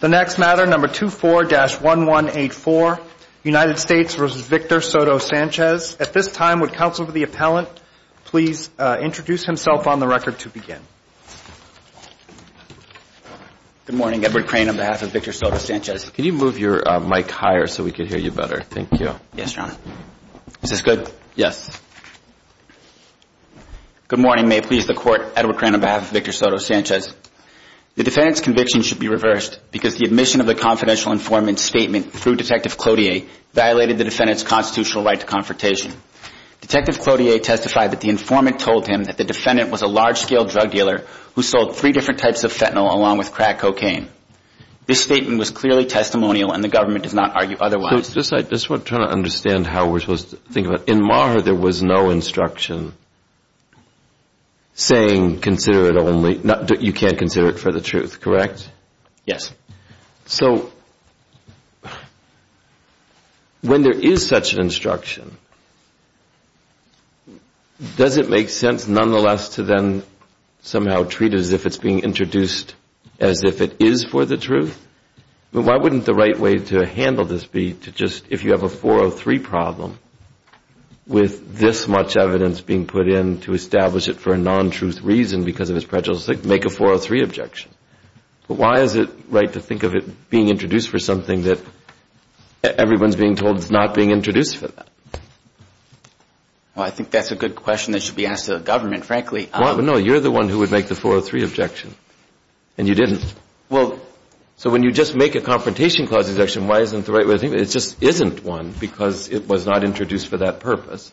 The next matter, number 24-1184, United States v. Victor Soto-Sanchez. At this time, would counsel to the appellant please introduce himself on the record to begin. Good morning. Edward Crane on behalf of Victor Soto-Sanchez. Can you move your mic higher so we can hear you better? Thank you. Yes, Your Honor. Is this good? Yes. Good morning. May it please the Court. Edward Crane on behalf of Victor Soto-Sanchez. The defendant's conviction should be reversed because the admission of the confidential informant's statement through Detective Cloutier violated the defendant's constitutional right to confrontation. Detective Cloutier testified that the informant told him that the defendant was a large-scale drug dealer who sold three different types of fentanyl along with crack cocaine. This statement was clearly testimonial and the government does not argue otherwise. I just want to try to understand how we're supposed to think about it. In Maher, there was no instruction saying you can't consider it for the truth, correct? Yes. So when there is such an instruction, does it make sense nonetheless to then somehow treat it as if it's being introduced as if it is for the truth? Why wouldn't the right way to handle this be to just, if you have a 403 problem, with this much evidence being put in to establish it for a non-truth reason because of its prejudice, make a 403 objection? But why is it right to think of it being introduced for something that everyone's being told is not being introduced for that? Well, I think that's a good question that should be asked of the government, frankly. No, you're the one who would make the 403 objection and you didn't. So when you just make a confrontation clause objection, why isn't the right way to think of it? It just isn't one because it was not introduced for that purpose.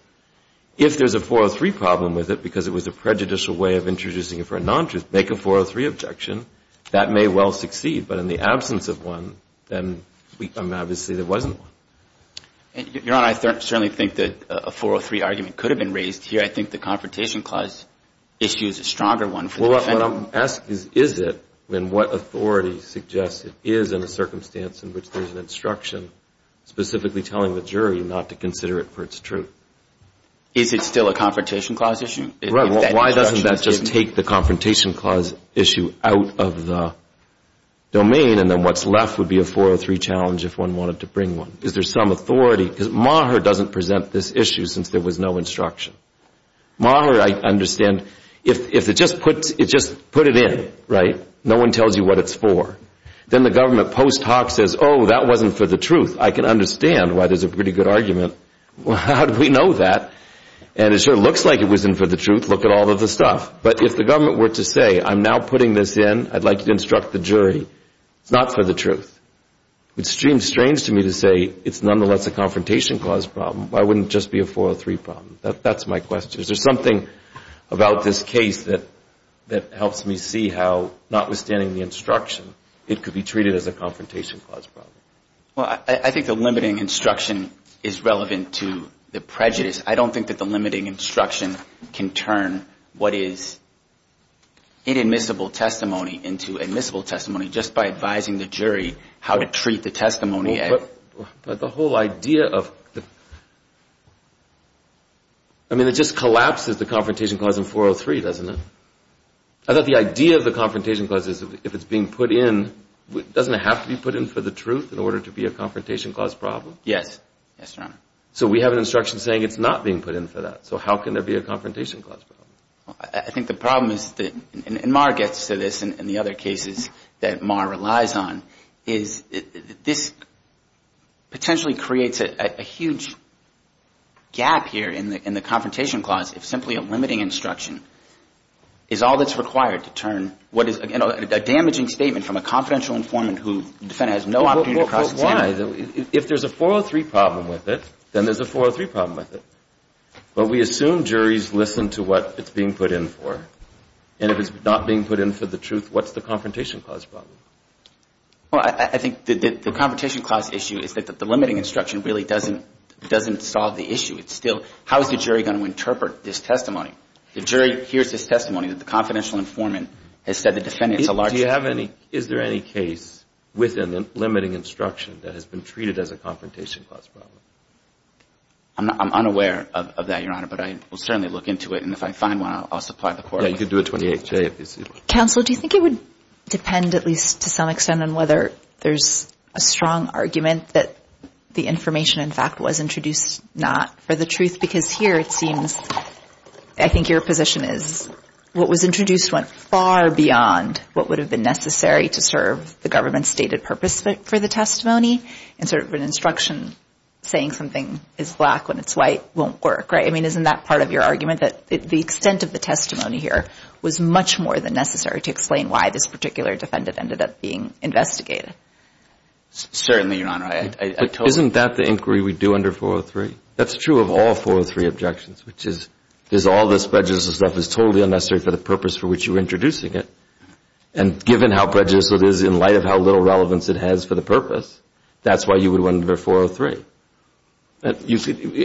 If there's a 403 problem with it because it was a prejudicial way of introducing it for a non-truth, make a 403 objection. That may well succeed. But in the absence of one, then obviously there wasn't one. Your Honor, I certainly think that a 403 argument could have been raised here. I think the confrontation clause issue is a stronger one for the defendant. Well, what I'm asking is, is it? I mean, what authority suggests it is in a circumstance in which there's an instruction specifically telling the jury not to consider it for its truth? Is it still a confrontation clause issue? Right, well, why doesn't that just take the confrontation clause issue out of the domain and then what's left would be a 403 challenge if one wanted to bring one? Is there some authority? Because Maher doesn't present this issue since there was no instruction. Maher, I understand, if it just puts it in, right, no one tells you what it's for. Then the government post hoc says, oh, that wasn't for the truth. I can understand why there's a pretty good argument. Well, how do we know that? And it sure looks like it wasn't for the truth. Look at all of the stuff. But if the government were to say, I'm now putting this in. I'd like you to instruct the jury. It's not for the truth. It would seem strange to me to say it's nonetheless a confrontation clause problem. Why wouldn't it just be a 403 problem? That's my question. Is there something about this case that helps me see how, notwithstanding the instruction, it could be treated as a confrontation clause problem? Well, I think the limiting instruction is relevant to the prejudice. I don't think that the limiting instruction can turn what is inadmissible testimony into admissible testimony just by advising the jury how to treat the testimony. But the whole idea of the... I mean, it just collapses the confrontation clause in 403, doesn't it? I thought the idea of the confrontation clause is if it's being put in, doesn't it have to be put in for the truth in order to be a confrontation clause problem? Yes. Yes, Your Honor. So we have an instruction saying it's not being put in for that. So how can there be a confrontation clause problem? I think the problem is that, and Mar gets to this in the other cases that Mar relies on, is this potentially creates a huge gap here in the confrontation clause if simply a limiting instruction is all that's required to turn what is a damaging statement from a confidential informant who the defendant has no opportunity to cross examine. Well, why? If there's a 403 problem with it, then there's a 403 problem with it. But we assume juries listen to what it's being put in for. And if it's not being put in for the truth, what's the confrontation clause problem? Well, I think the confrontation clause issue is that the limiting instruction really doesn't solve the issue. It's still, how is the jury going to interpret this testimony? The jury hears this testimony that the confidential informant has said the defendant is a large... Do you have any, is there any case within the limiting instruction that has been treated as a confrontation clause problem? I'm unaware of that, Your Honor, but I will certainly look into it. And if I find one, I'll supply the court with it. Counsel, do you think it would depend, at least to some extent, on whether there's a strong argument that the information, in fact, was introduced not for the truth? Because here it seems, I think your position is what was introduced went far beyond what would have been necessary to serve the government's stated purpose for the testimony. And sort of an instruction saying something is black when it's white won't work, right? I mean, isn't that part of your argument, that the extent of the testimony here was much more than necessary to explain why this particular defendant ended up being investigated? Certainly, Your Honor. Isn't that the inquiry we do under 403? That's true of all 403 objections, which is, is all this prejudice and stuff is totally unnecessary for the purpose for which you were introducing it. And given how prejudiced it is in light of how little relevance it has for the purpose, that's why you would want to go 403.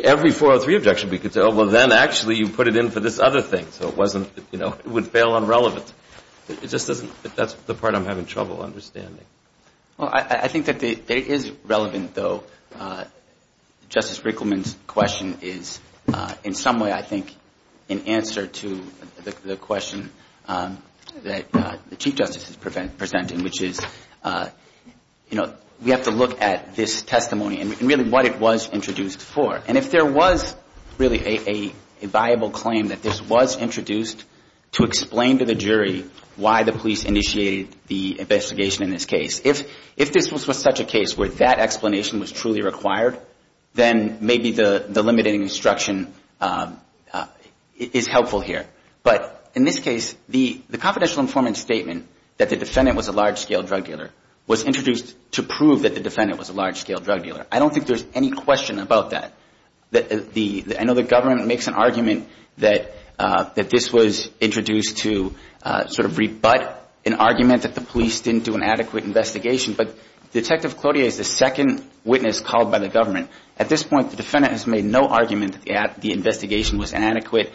Every 403 objection we could say, oh, well, then actually you put it in for this other thing. So it wasn't, you know, it would fail on relevance. It just doesn't, that's the part I'm having trouble understanding. Well, I think that it is relevant, though. Justice Rickleman's question is in some way, I think, in answer to the question that the Chief Justice is presenting, which is, you know, we have to look at this testimony and really what it was introduced for. And if there was really a viable claim that this was introduced to explain to the jury why the police initiated the investigation in this case, if this was such a case where that explanation was truly required, then maybe the limiting instruction is helpful here. But in this case, the confidential informant statement that the defendant was a large-scale drug dealer was introduced to prove that the defendant was a large-scale drug dealer. I don't think there's any question about that. I know the government makes an argument that this was introduced to sort of rebut an argument that the police didn't do an adequate investigation. But Detective Claudia is the second witness called by the government. At this point, the defendant has made no argument that the investigation was inadequate.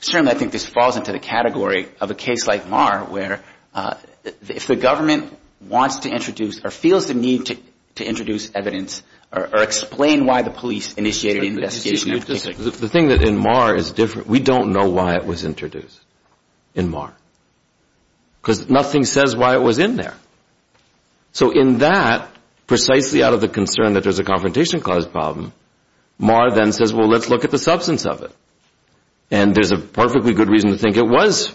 Certainly, I think this falls into the category of a case like Maher, where if the government wants to introduce or feels the need to introduce evidence or explain why the police initiated the investigation. The thing that in Maher is different, we don't know why it was introduced in Maher. Because nothing says why it was in there. So in that, precisely out of the concern that there's a confrontation-caused problem, Maher then says, well, let's look at the substance of it. And there's a perfectly good reason to think it was.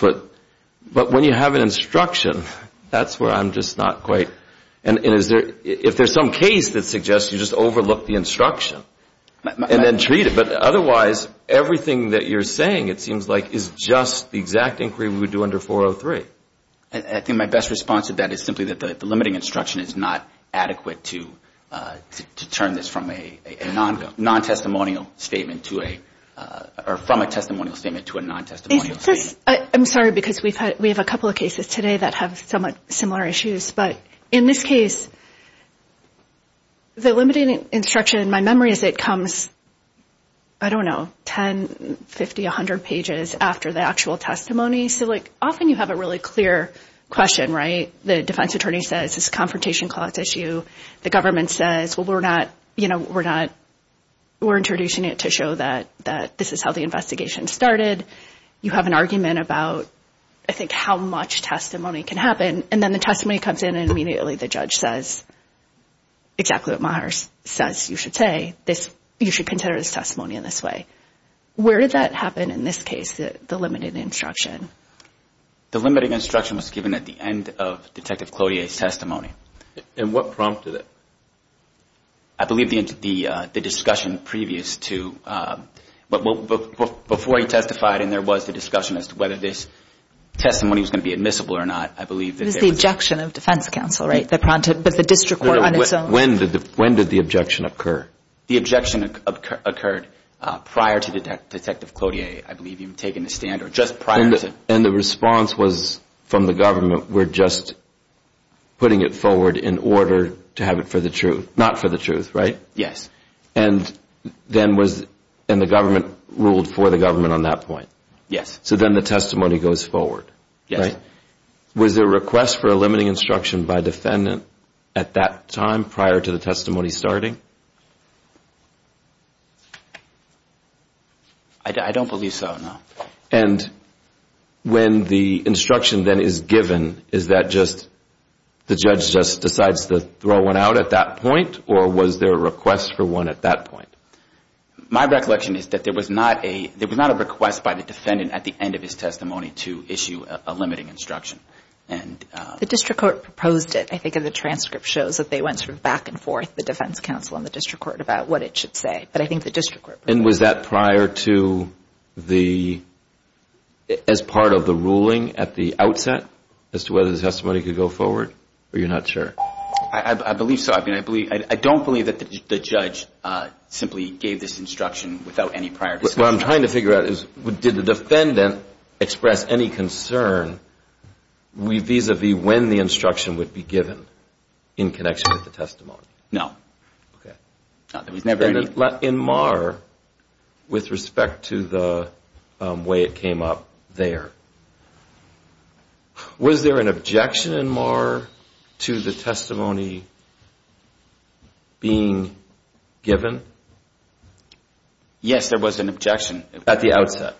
But when you have an instruction, that's where I'm just not quite. And if there's some case that suggests you just overlook the instruction and then treat it. But otherwise, everything that you're saying, it seems like, is just the exact inquiry we would do under 403. I think my best response to that is simply that the limiting instruction is not adequate to turn this from a non-testimonial statement to a, or from a testimonial statement to a non-testimonial statement. I'm sorry, because we have a couple of cases today that have somewhat similar issues. But in this case, the limiting instruction in my memory is it comes, I don't know, 10, 50, 100 pages after the actual testimony. So, like, often you have a really clear question, right? The defense attorney says it's a confrontation clause issue. The government says, well, we're not, you know, we're not, we're introducing it to show that this is how the investigation started. You have an argument about, I think, how much testimony can happen. And then the testimony comes in and immediately the judge says exactly what Maher says you should say. You should consider this testimony in this way. Where did that happen in this case, the limiting instruction? The limiting instruction was given at the end of Detective Clodier's testimony. And what prompted it? I believe the discussion previous to, before he testified and there was the discussion as to whether this testimony was going to be admissible or not, I believe that there was. It was the objection of defense counsel, right, that prompted, but the district court on its own. When did the objection occur? The objection occurred prior to Detective Clodier, I believe he had taken a stand or just prior to. And the response was from the government, we're just putting it forward in order to have it for the truth, not for the truth, right? Yes. And then was, and the government ruled for the government on that point? Yes. So then the testimony goes forward, right? Yes. Was there a request for a limiting instruction by defendant at that time prior to the testimony starting? I don't believe so, no. And when the instruction then is given, is that just, the judge just decides to throw one out at that point? Or was there a request for one at that point? My recollection is that there was not a request by the defendant at the end of his testimony to issue a limiting instruction. The district court proposed it, I think, and the transcript shows that they went sort of back and forth, the defense counsel and the district court, about what it should say. But I think the district court. And was that prior to the, as part of the ruling at the outset as to whether the testimony could go forward? Or you're not sure? I believe so. I don't believe that the judge simply gave this instruction without any prior discussion. What I'm trying to figure out is did the defendant express any concern vis-a-vis when the instruction would be given in connection with the testimony? No. Okay. There was never any. In Marr, with respect to the way it came up there, was there an objection in Marr to the testimony being given? Yes, there was an objection. At the outset?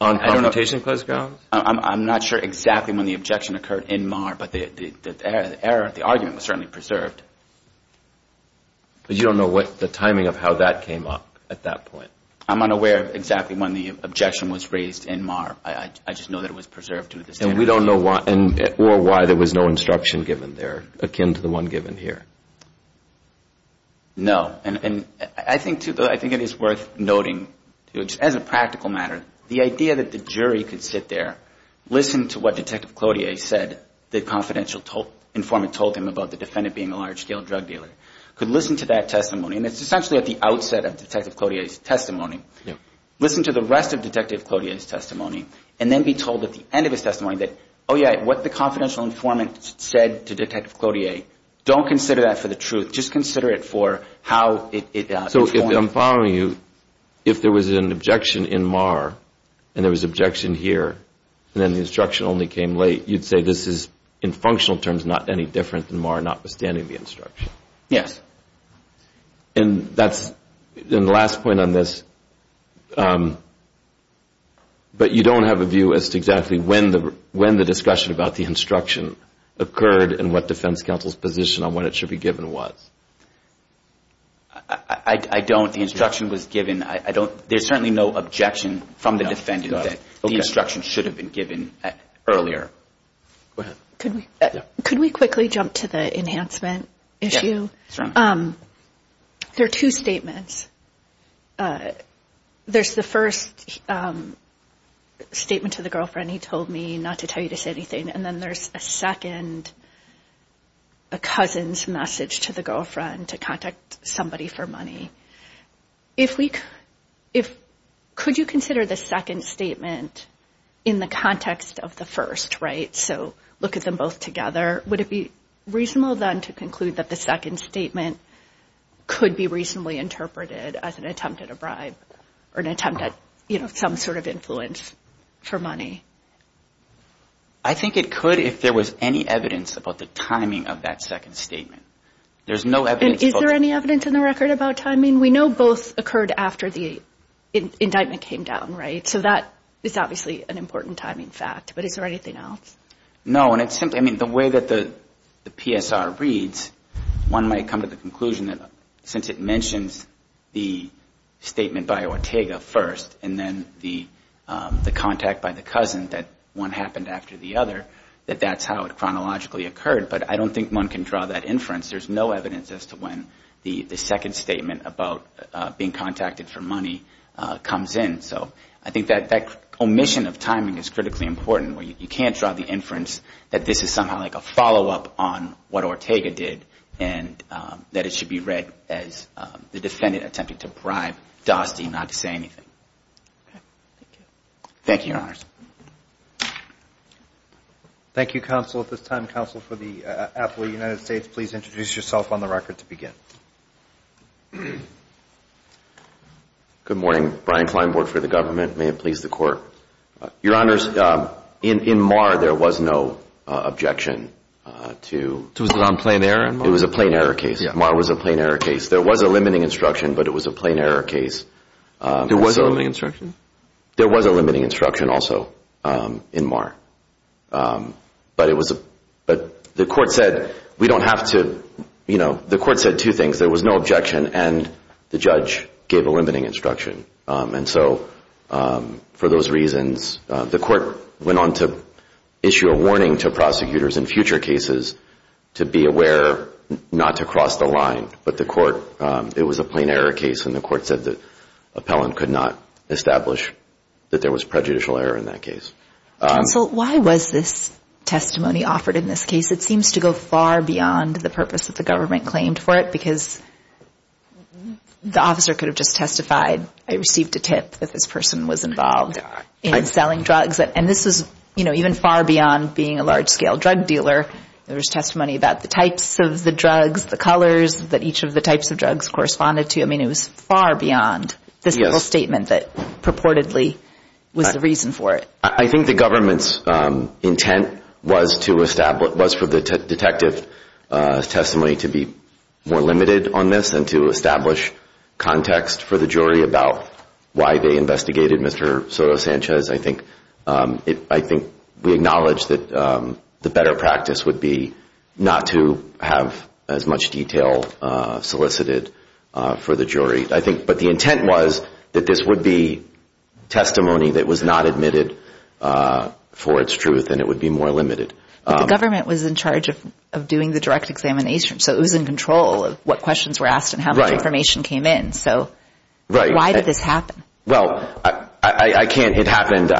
On confrontation grounds? I'm not sure exactly when the objection occurred in Marr, but the error, the argument was certainly preserved. But you don't know what the timing of how that came up at that point? I'm unaware of exactly when the objection was raised in Marr. I just know that it was preserved. And we don't know why there was no instruction given there akin to the one given here? No. And I think, too, though, I think it is worth noting, as a practical matter, the idea that the jury could sit there, listen to what Detective Cloutier said the confidential informant told him about the defendant being a large-scale drug dealer, could listen to that testimony. And it's essentially at the outset of Detective Cloutier's testimony. Listen to the rest of Detective Cloutier's testimony and then be told at the end of his testimony that, oh, yeah, what the confidential informant said to Detective Cloutier, don't consider that for the truth. Just consider it for how it informed. I'm just telling you, if there was an objection in Marr and there was an objection here and then the instruction only came late, you'd say this is, in functional terms, not any different than Marr notwithstanding the instruction? Yes. And that's the last point on this. But you don't have a view as to exactly when the discussion about the instruction occurred and what defense counsel's position on when it should be given was? I don't. The instruction was given. There's certainly no objection from the defendant that the instruction should have been given earlier. Go ahead. Could we quickly jump to the enhancement issue? Yes. There are two statements. There's the first statement to the girlfriend, he told me not to tell you to say anything, and then there's a second, a cousin's message to the girlfriend to contact somebody for money. Could you consider the second statement in the context of the first, right? So look at them both together. Would it be reasonable, then, to conclude that the second statement could be reasonably interpreted as an attempt at a bribe or an attempt at some sort of influence for money? I think it could if there was any evidence about the timing of that second statement. There's no evidence. And is there any evidence in the record about timing? We know both occurred after the indictment came down, right? So that is obviously an important timing fact, but is there anything else? No, and it's simply, I mean, the way that the PSR reads, one might come to the conclusion that since it mentions the statement by Ortega first and then the contact by the cousin, that one happened after the other, that that's how it chronologically occurred. But I don't think one can draw that inference. There's no evidence as to when the second statement about being contacted for money comes in. So I think that that omission of timing is critically important, where you can't draw the inference that this is the defendant attempting to bribe Dusty not to say anything. Thank you. Thank you, counsel. At this time, counsel for the appellate of the United States, please introduce yourself on the record to begin. Good morning. Brian Kleinborg for the government. May it please the Court. Your Honors, in Marr there was no objection to Was it on plain error in Marr? It was a plain error case. Marr was a plain error case. There was a limiting instruction, but it was a plain error case. There was a limiting instruction? There was a limiting instruction also in Marr. But the Court said we don't have to, you know, the Court said two things. There was no objection and the judge gave a limiting instruction. And so for those reasons, the Court went on to issue a warning to prosecutors in future cases to be aware not to cross the line, but the Court, it was a plain error case and the Court said the appellant could not establish that there was prejudicial error in that case. Counsel, why was this testimony offered in this case? It seems to go far beyond the purpose that the government claimed for it because the officer could have just testified, I received a tip that this person was involved in selling drugs. And this is, you know, even far beyond being a large-scale drug dealer. There was testimony about the types of the drugs, the colors that each of the types of drugs corresponded to. I mean, it was far beyond this little statement that purportedly was the reason for it. I think the government's intent was for the detective's testimony to be more limited on this and to establish context for the jury about why they investigated Mr. Soto Sanchez. I think we acknowledge that the better practice would be not to have as much detail solicited for the jury. But the intent was that this would be testimony that was not admitted for its truth and it would be more limited. But the government was in charge of doing the direct examination. So it was in control of what questions were asked and how much information came in. So why did this happen? Well, I can't, it happened,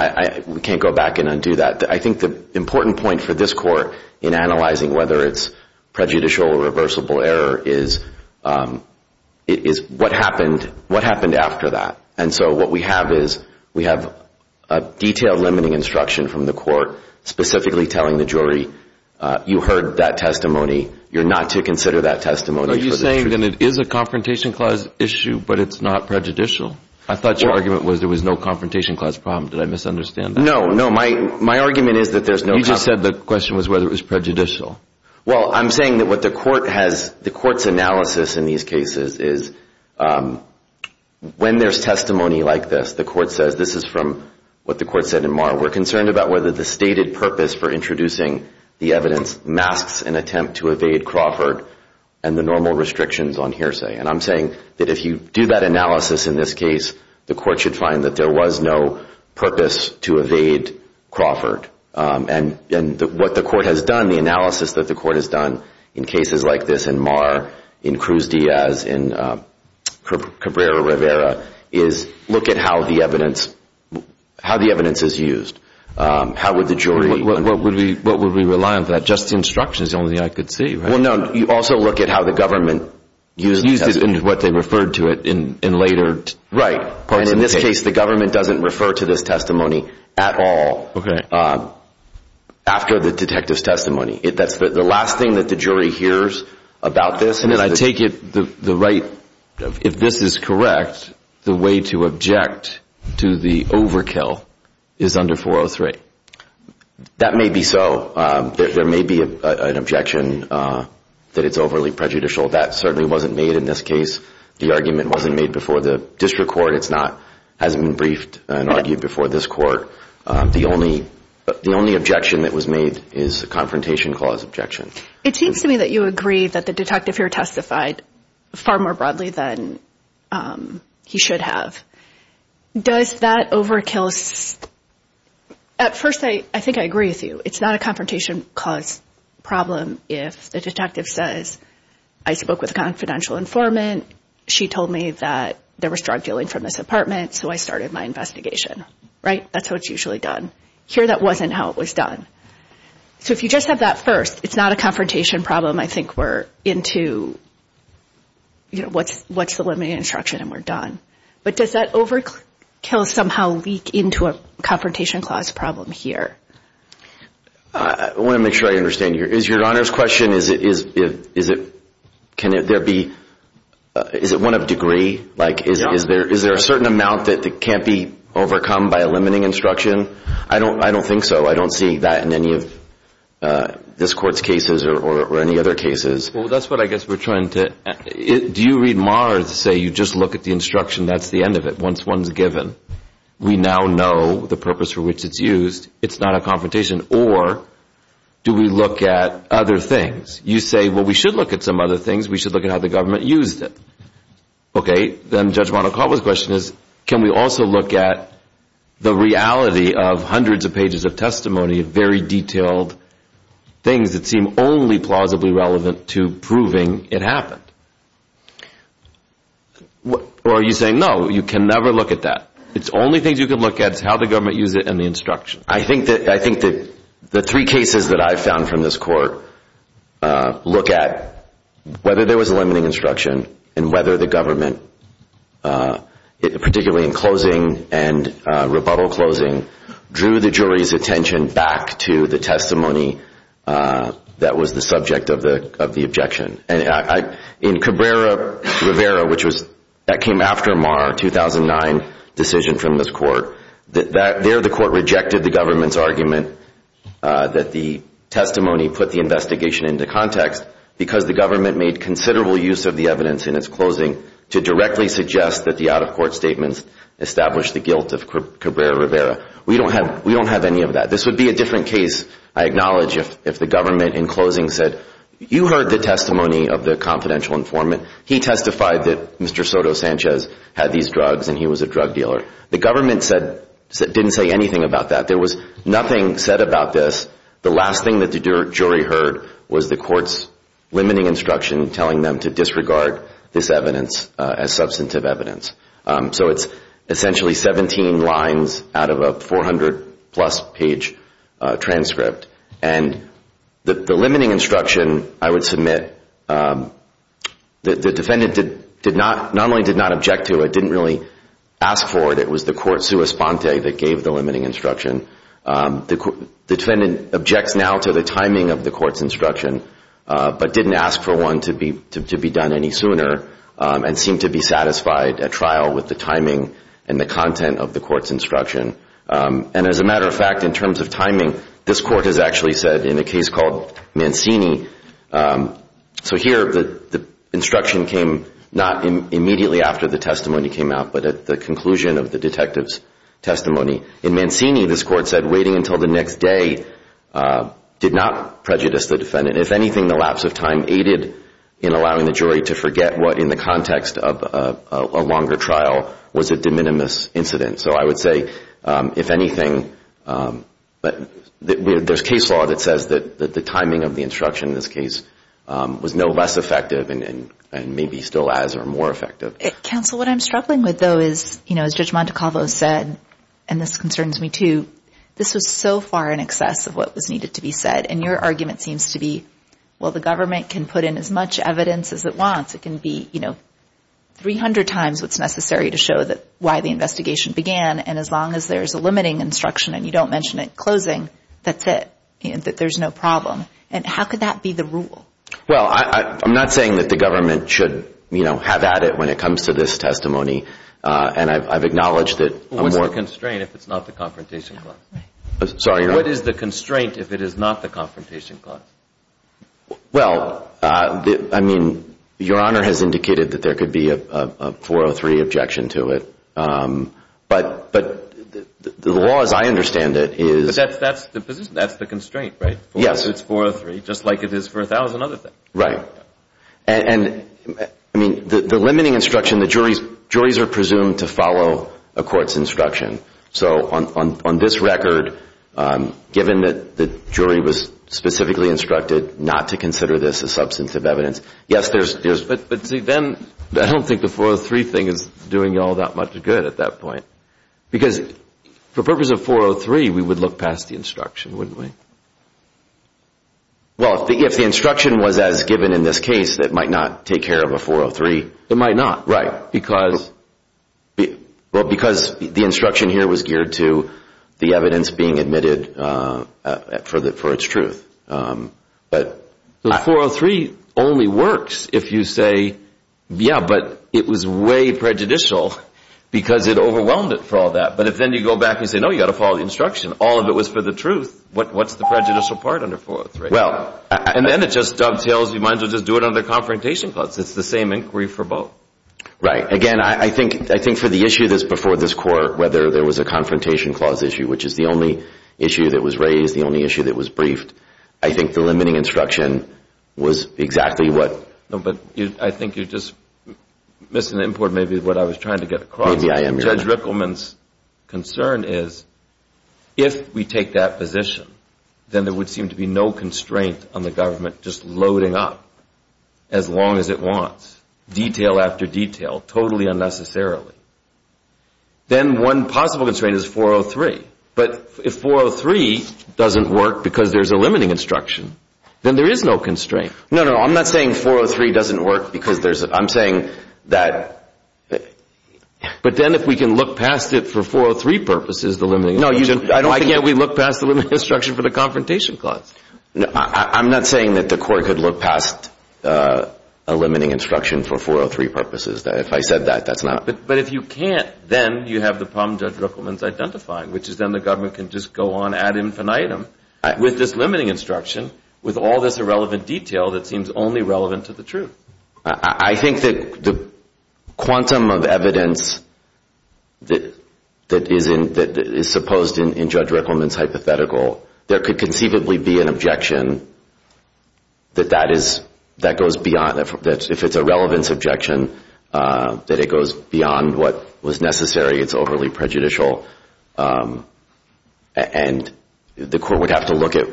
we can't go back and undo that. I think the important point for this court in analyzing whether it's prejudicial or reversible error is what happened after that. And so what we have is we have a detailed limiting instruction from the court specifically telling the jury, you heard that testimony, you're not to consider that testimony. Are you saying that it is a Confrontation Clause issue but it's not prejudicial? I thought your argument was there was no Confrontation Clause problem. Did I misunderstand that? No, no, my argument is that there's no Confrontation Clause. You just said the question was whether it was prejudicial. Well, I'm saying that what the court has, the court's analysis in these cases is when there's testimony like this, the court says, this is from what the court said in Marr, we're concerned about whether the stated purpose for introducing the evidence masks an attempt to evade Crawford and the normal restrictions on hearsay. And I'm saying that if you do that analysis in this case, the court should find that there was no purpose to evade Crawford. And what the court has done, the analysis that the court has done in cases like this in Marr, in Cruz Diaz, in Cabrera Rivera, is look at how the evidence is used. How would the jury? What would we rely on for that? Just instructions is the only thing I could see, right? Well, no, you also look at how the government used the testimony. Used it in what they referred to it in later parts of the case. Right. And in this case, the government doesn't refer to this testimony at all. Okay. After the detective's testimony. That's the last thing that the jury hears about this. And I take it the right, if this is correct, the way to object to the overkill is under 403. That may be so. There may be an objection that it's overly prejudicial. That certainly wasn't made in this case. The argument wasn't made before the district court. It hasn't been briefed and argued before this court. The only objection that was made is a confrontation clause objection. It seems to me that you agree that the detective here testified far more broadly than he should have. Does that overkill? At first, I think I agree with you. It's not a confrontation clause problem if the detective says, I spoke with a confidential informant. She told me that there was drug dealing from this apartment, so I started my investigation. Right? That's how it's usually done. Here, that wasn't how it was done. So if you just have that first, it's not a confrontation problem. I think we're into, you know, what's the limiting instruction and we're done. But does that overkill somehow leak into a confrontation clause problem here? I want to make sure I understand here. Is your Honor's question, is it, can there be, is it one of degree? Like is there a certain amount that can't be overcome by a limiting instruction? I don't think so. I don't see that in any of this court's cases or any other cases. Well, that's what I guess we're trying to, do you read Maher to say you just look at the instruction, that's the end of it, once one's given. We now know the purpose for which it's used. It's not a confrontation. Or do we look at other things? You say, well, we should look at some other things. We should look at how the government used it. Okay. Then Judge Monacova's question is, can we also look at the reality of hundreds of pages of testimony, very detailed things that seem only plausibly relevant to proving it happened? Or are you saying, no, you can never look at that. It's only things you can look at is how the government used it and the instruction. I think that the three cases that I've found from this court look at whether there was a limiting instruction and whether the government, particularly in closing and rebuttal closing, drew the jury's attention back to the testimony that was the subject of the objection. And in Cabrera-Rivera, which was, that came after Maher 2009 decision from this court, there the court rejected the government's argument that the testimony put the investigation into context because the government made considerable use of the evidence in its closing to directly suggest that the out-of-court statements established the guilt of Cabrera-Rivera. We don't have any of that. This would be a different case, I acknowledge, if the government in closing said, you heard the testimony of the confidential informant. He testified that Mr. Soto Sanchez had these drugs and he was a drug dealer. The government didn't say anything about that. There was nothing said about this. The last thing that the jury heard was the court's limiting instruction telling them to disregard this evidence as substantive evidence. So it's essentially 17 lines out of a 400-plus page transcript. And the limiting instruction, I would submit, the defendant not only did not object to it, but didn't really ask for it. It was the court sua sponte that gave the limiting instruction. The defendant objects now to the timing of the court's instruction, but didn't ask for one to be done any sooner and seemed to be satisfied at trial with the timing and the content of the court's instruction. And as a matter of fact, in terms of timing, this court has actually said in a case called Mancini, so here the instruction came not immediately after the testimony came out, but at the conclusion of the detective's testimony. In Mancini, this court said waiting until the next day did not prejudice the defendant. If anything, the lapse of time aided in allowing the jury to forget what, in the context of a longer trial, was a de minimis incident. So I would say, if anything, there's case law that says that the timing of the instruction in this case was no less effective and maybe still as or more effective. Counsel, what I'm struggling with, though, is, you know, as Judge Montecalvo said, and this concerns me too, this was so far in excess of what was needed to be said. And your argument seems to be, well, the government can put in as much evidence as it wants. It can be, you know, 300 times what's necessary to show why the investigation began. And as long as there's a limiting instruction and you don't mention it closing, that's it, that there's no problem. And how could that be the rule? Well, I'm not saying that the government should, you know, have at it when it comes to this testimony. And I've acknowledged that. What's the constraint if it's not the confrontation clause? Sorry, your Honor? What is the constraint if it is not the confrontation clause? Well, I mean, your Honor has indicated that there could be a 403 objection to it. But the law as I understand it is. That's the constraint, right? Yes. It's 403, just like it is for 1,000 other things. Right. And, I mean, the limiting instruction, the juries are presumed to follow a court's instruction. So on this record, given that the jury was specifically instructed not to consider this a substance of evidence, yes, there's... But see, then I don't think the 403 thing is doing you all that much good at that point. Because for purpose of 403, we would look past the instruction, wouldn't we? Well, if the instruction was as given in this case, it might not take care of a 403. It might not. Right. Because... Well, because the instruction here was geared to the evidence being admitted for its truth. But... The 403 only works if you say, yeah, but it was way prejudicial because it overwhelmed it for all that. But if then you go back and say, no, you've got to follow the instruction. All of it was for the truth. What's the prejudicial part under 403? Well... And then it just dovetails, you might as well just do it under confrontation clause. It's the same inquiry for both. Right. Again, I think for the issue that's before this Court, whether there was a confrontation clause issue, which is the only issue that was raised, the only issue that was briefed, I think the limiting instruction was exactly what... No, but I think you're just missing the import maybe of what I was trying to get across. Maybe I am. Judge Rickleman's concern is if we take that position, then there would seem to be no constraint on the government just loading up as long as it wants, detail after detail, totally unnecessarily. Then one possible constraint is 403. But if 403 doesn't work because there's a limiting instruction, then there is no constraint. No, no. I'm not saying 403 doesn't work because there's a... I'm saying that... But then if we can look past it for 403 purposes, the limiting instruction... No. Again, we look past the limiting instruction for the confrontation clause. I'm not saying that the court could look past a limiting instruction for 403 purposes. If I said that, that's not... But if you can't, then you have the problem Judge Rickleman's identifying, which is then the government can just go on ad infinitum with this limiting instruction, with all this irrelevant detail that seems only relevant to the truth. I think that the quantum of evidence that is supposed in Judge Rickleman's hypothetical, there could conceivably be an objection that that goes beyond... If it's a relevance objection, that it goes beyond what was necessary. It's overly prejudicial. And the court would have to look at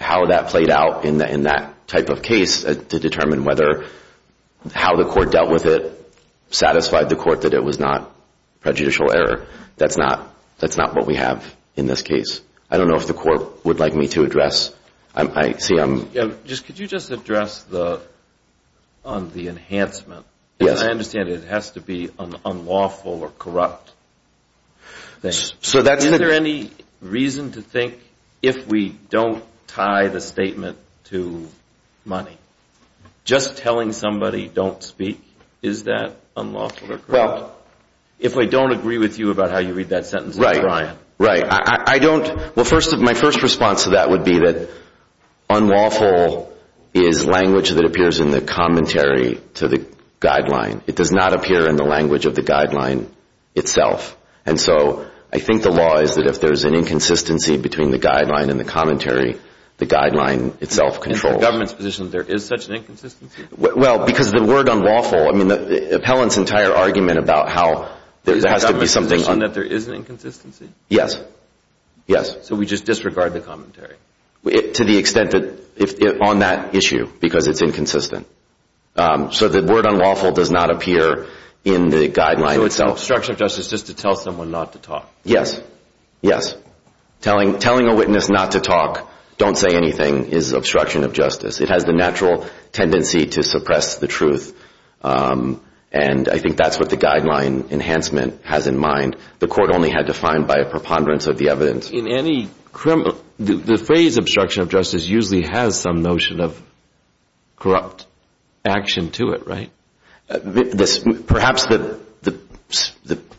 how that played out in that type of case to determine whether how the court dealt with it satisfied the court that it was not prejudicial error. That's not what we have in this case. I don't know if the court would like me to address. I see I'm... Could you just address the enhancement? Yes. I understand it has to be an unlawful or corrupt thing. So that's... Is there any reason to think if we don't tie the statement to money, just telling somebody don't speak, is that unlawful or corrupt? Well... If I don't agree with you about how you read that sentence... Right. Right. I don't... Well, my first response to that would be that unlawful is language that appears in the commentary to the guideline. It does not appear in the language of the guideline itself. And so I think the law is that if there's an inconsistency between the guideline and the commentary, the guideline itself controls. Is the government's position that there is such an inconsistency? Well, because the word unlawful... I mean, the appellant's entire argument about how there has to be something... Yes. Yes. So we just disregard the commentary? To the extent that on that issue, because it's inconsistent. So the word unlawful does not appear in the guideline itself. So it's an obstruction of justice just to tell someone not to talk. Yes. Yes. Telling a witness not to talk, don't say anything, is obstruction of justice. It has the natural tendency to suppress the truth. And I think that's what the guideline enhancement has in mind. The court only had to find by a preponderance of the evidence. In any criminal... The phrase obstruction of justice usually has some notion of corrupt action to it, right? Perhaps the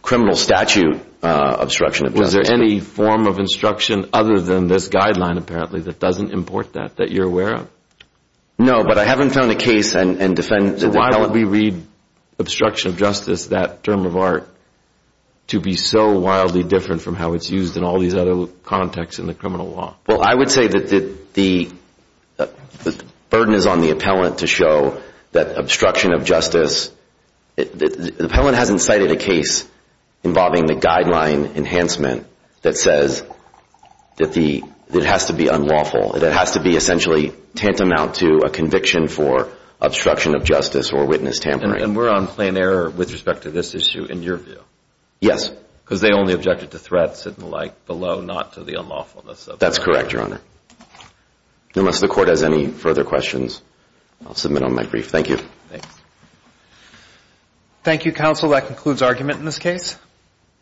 criminal statute obstruction of justice. Was there any form of instruction other than this guideline, apparently, that doesn't import that, that you're aware of? No, but I haven't found a case and defend... That would be so wildly different from how it's used in all these other contexts in the criminal law. Well, I would say that the burden is on the appellant to show that obstruction of justice... The appellant hasn't cited a case involving the guideline enhancement that says that it has to be unlawful, that it has to be essentially tantamount to a conviction for obstruction of justice or witness tampering. And we're on plain error with respect to this issue in your view? Yes. Because they only objected to threats and the like below, not to the unlawfulness of... That's correct, Your Honor. Unless the court has any further questions, I'll submit on my brief. Thank you. Thanks. Thank you, counsel. That concludes argument in this case.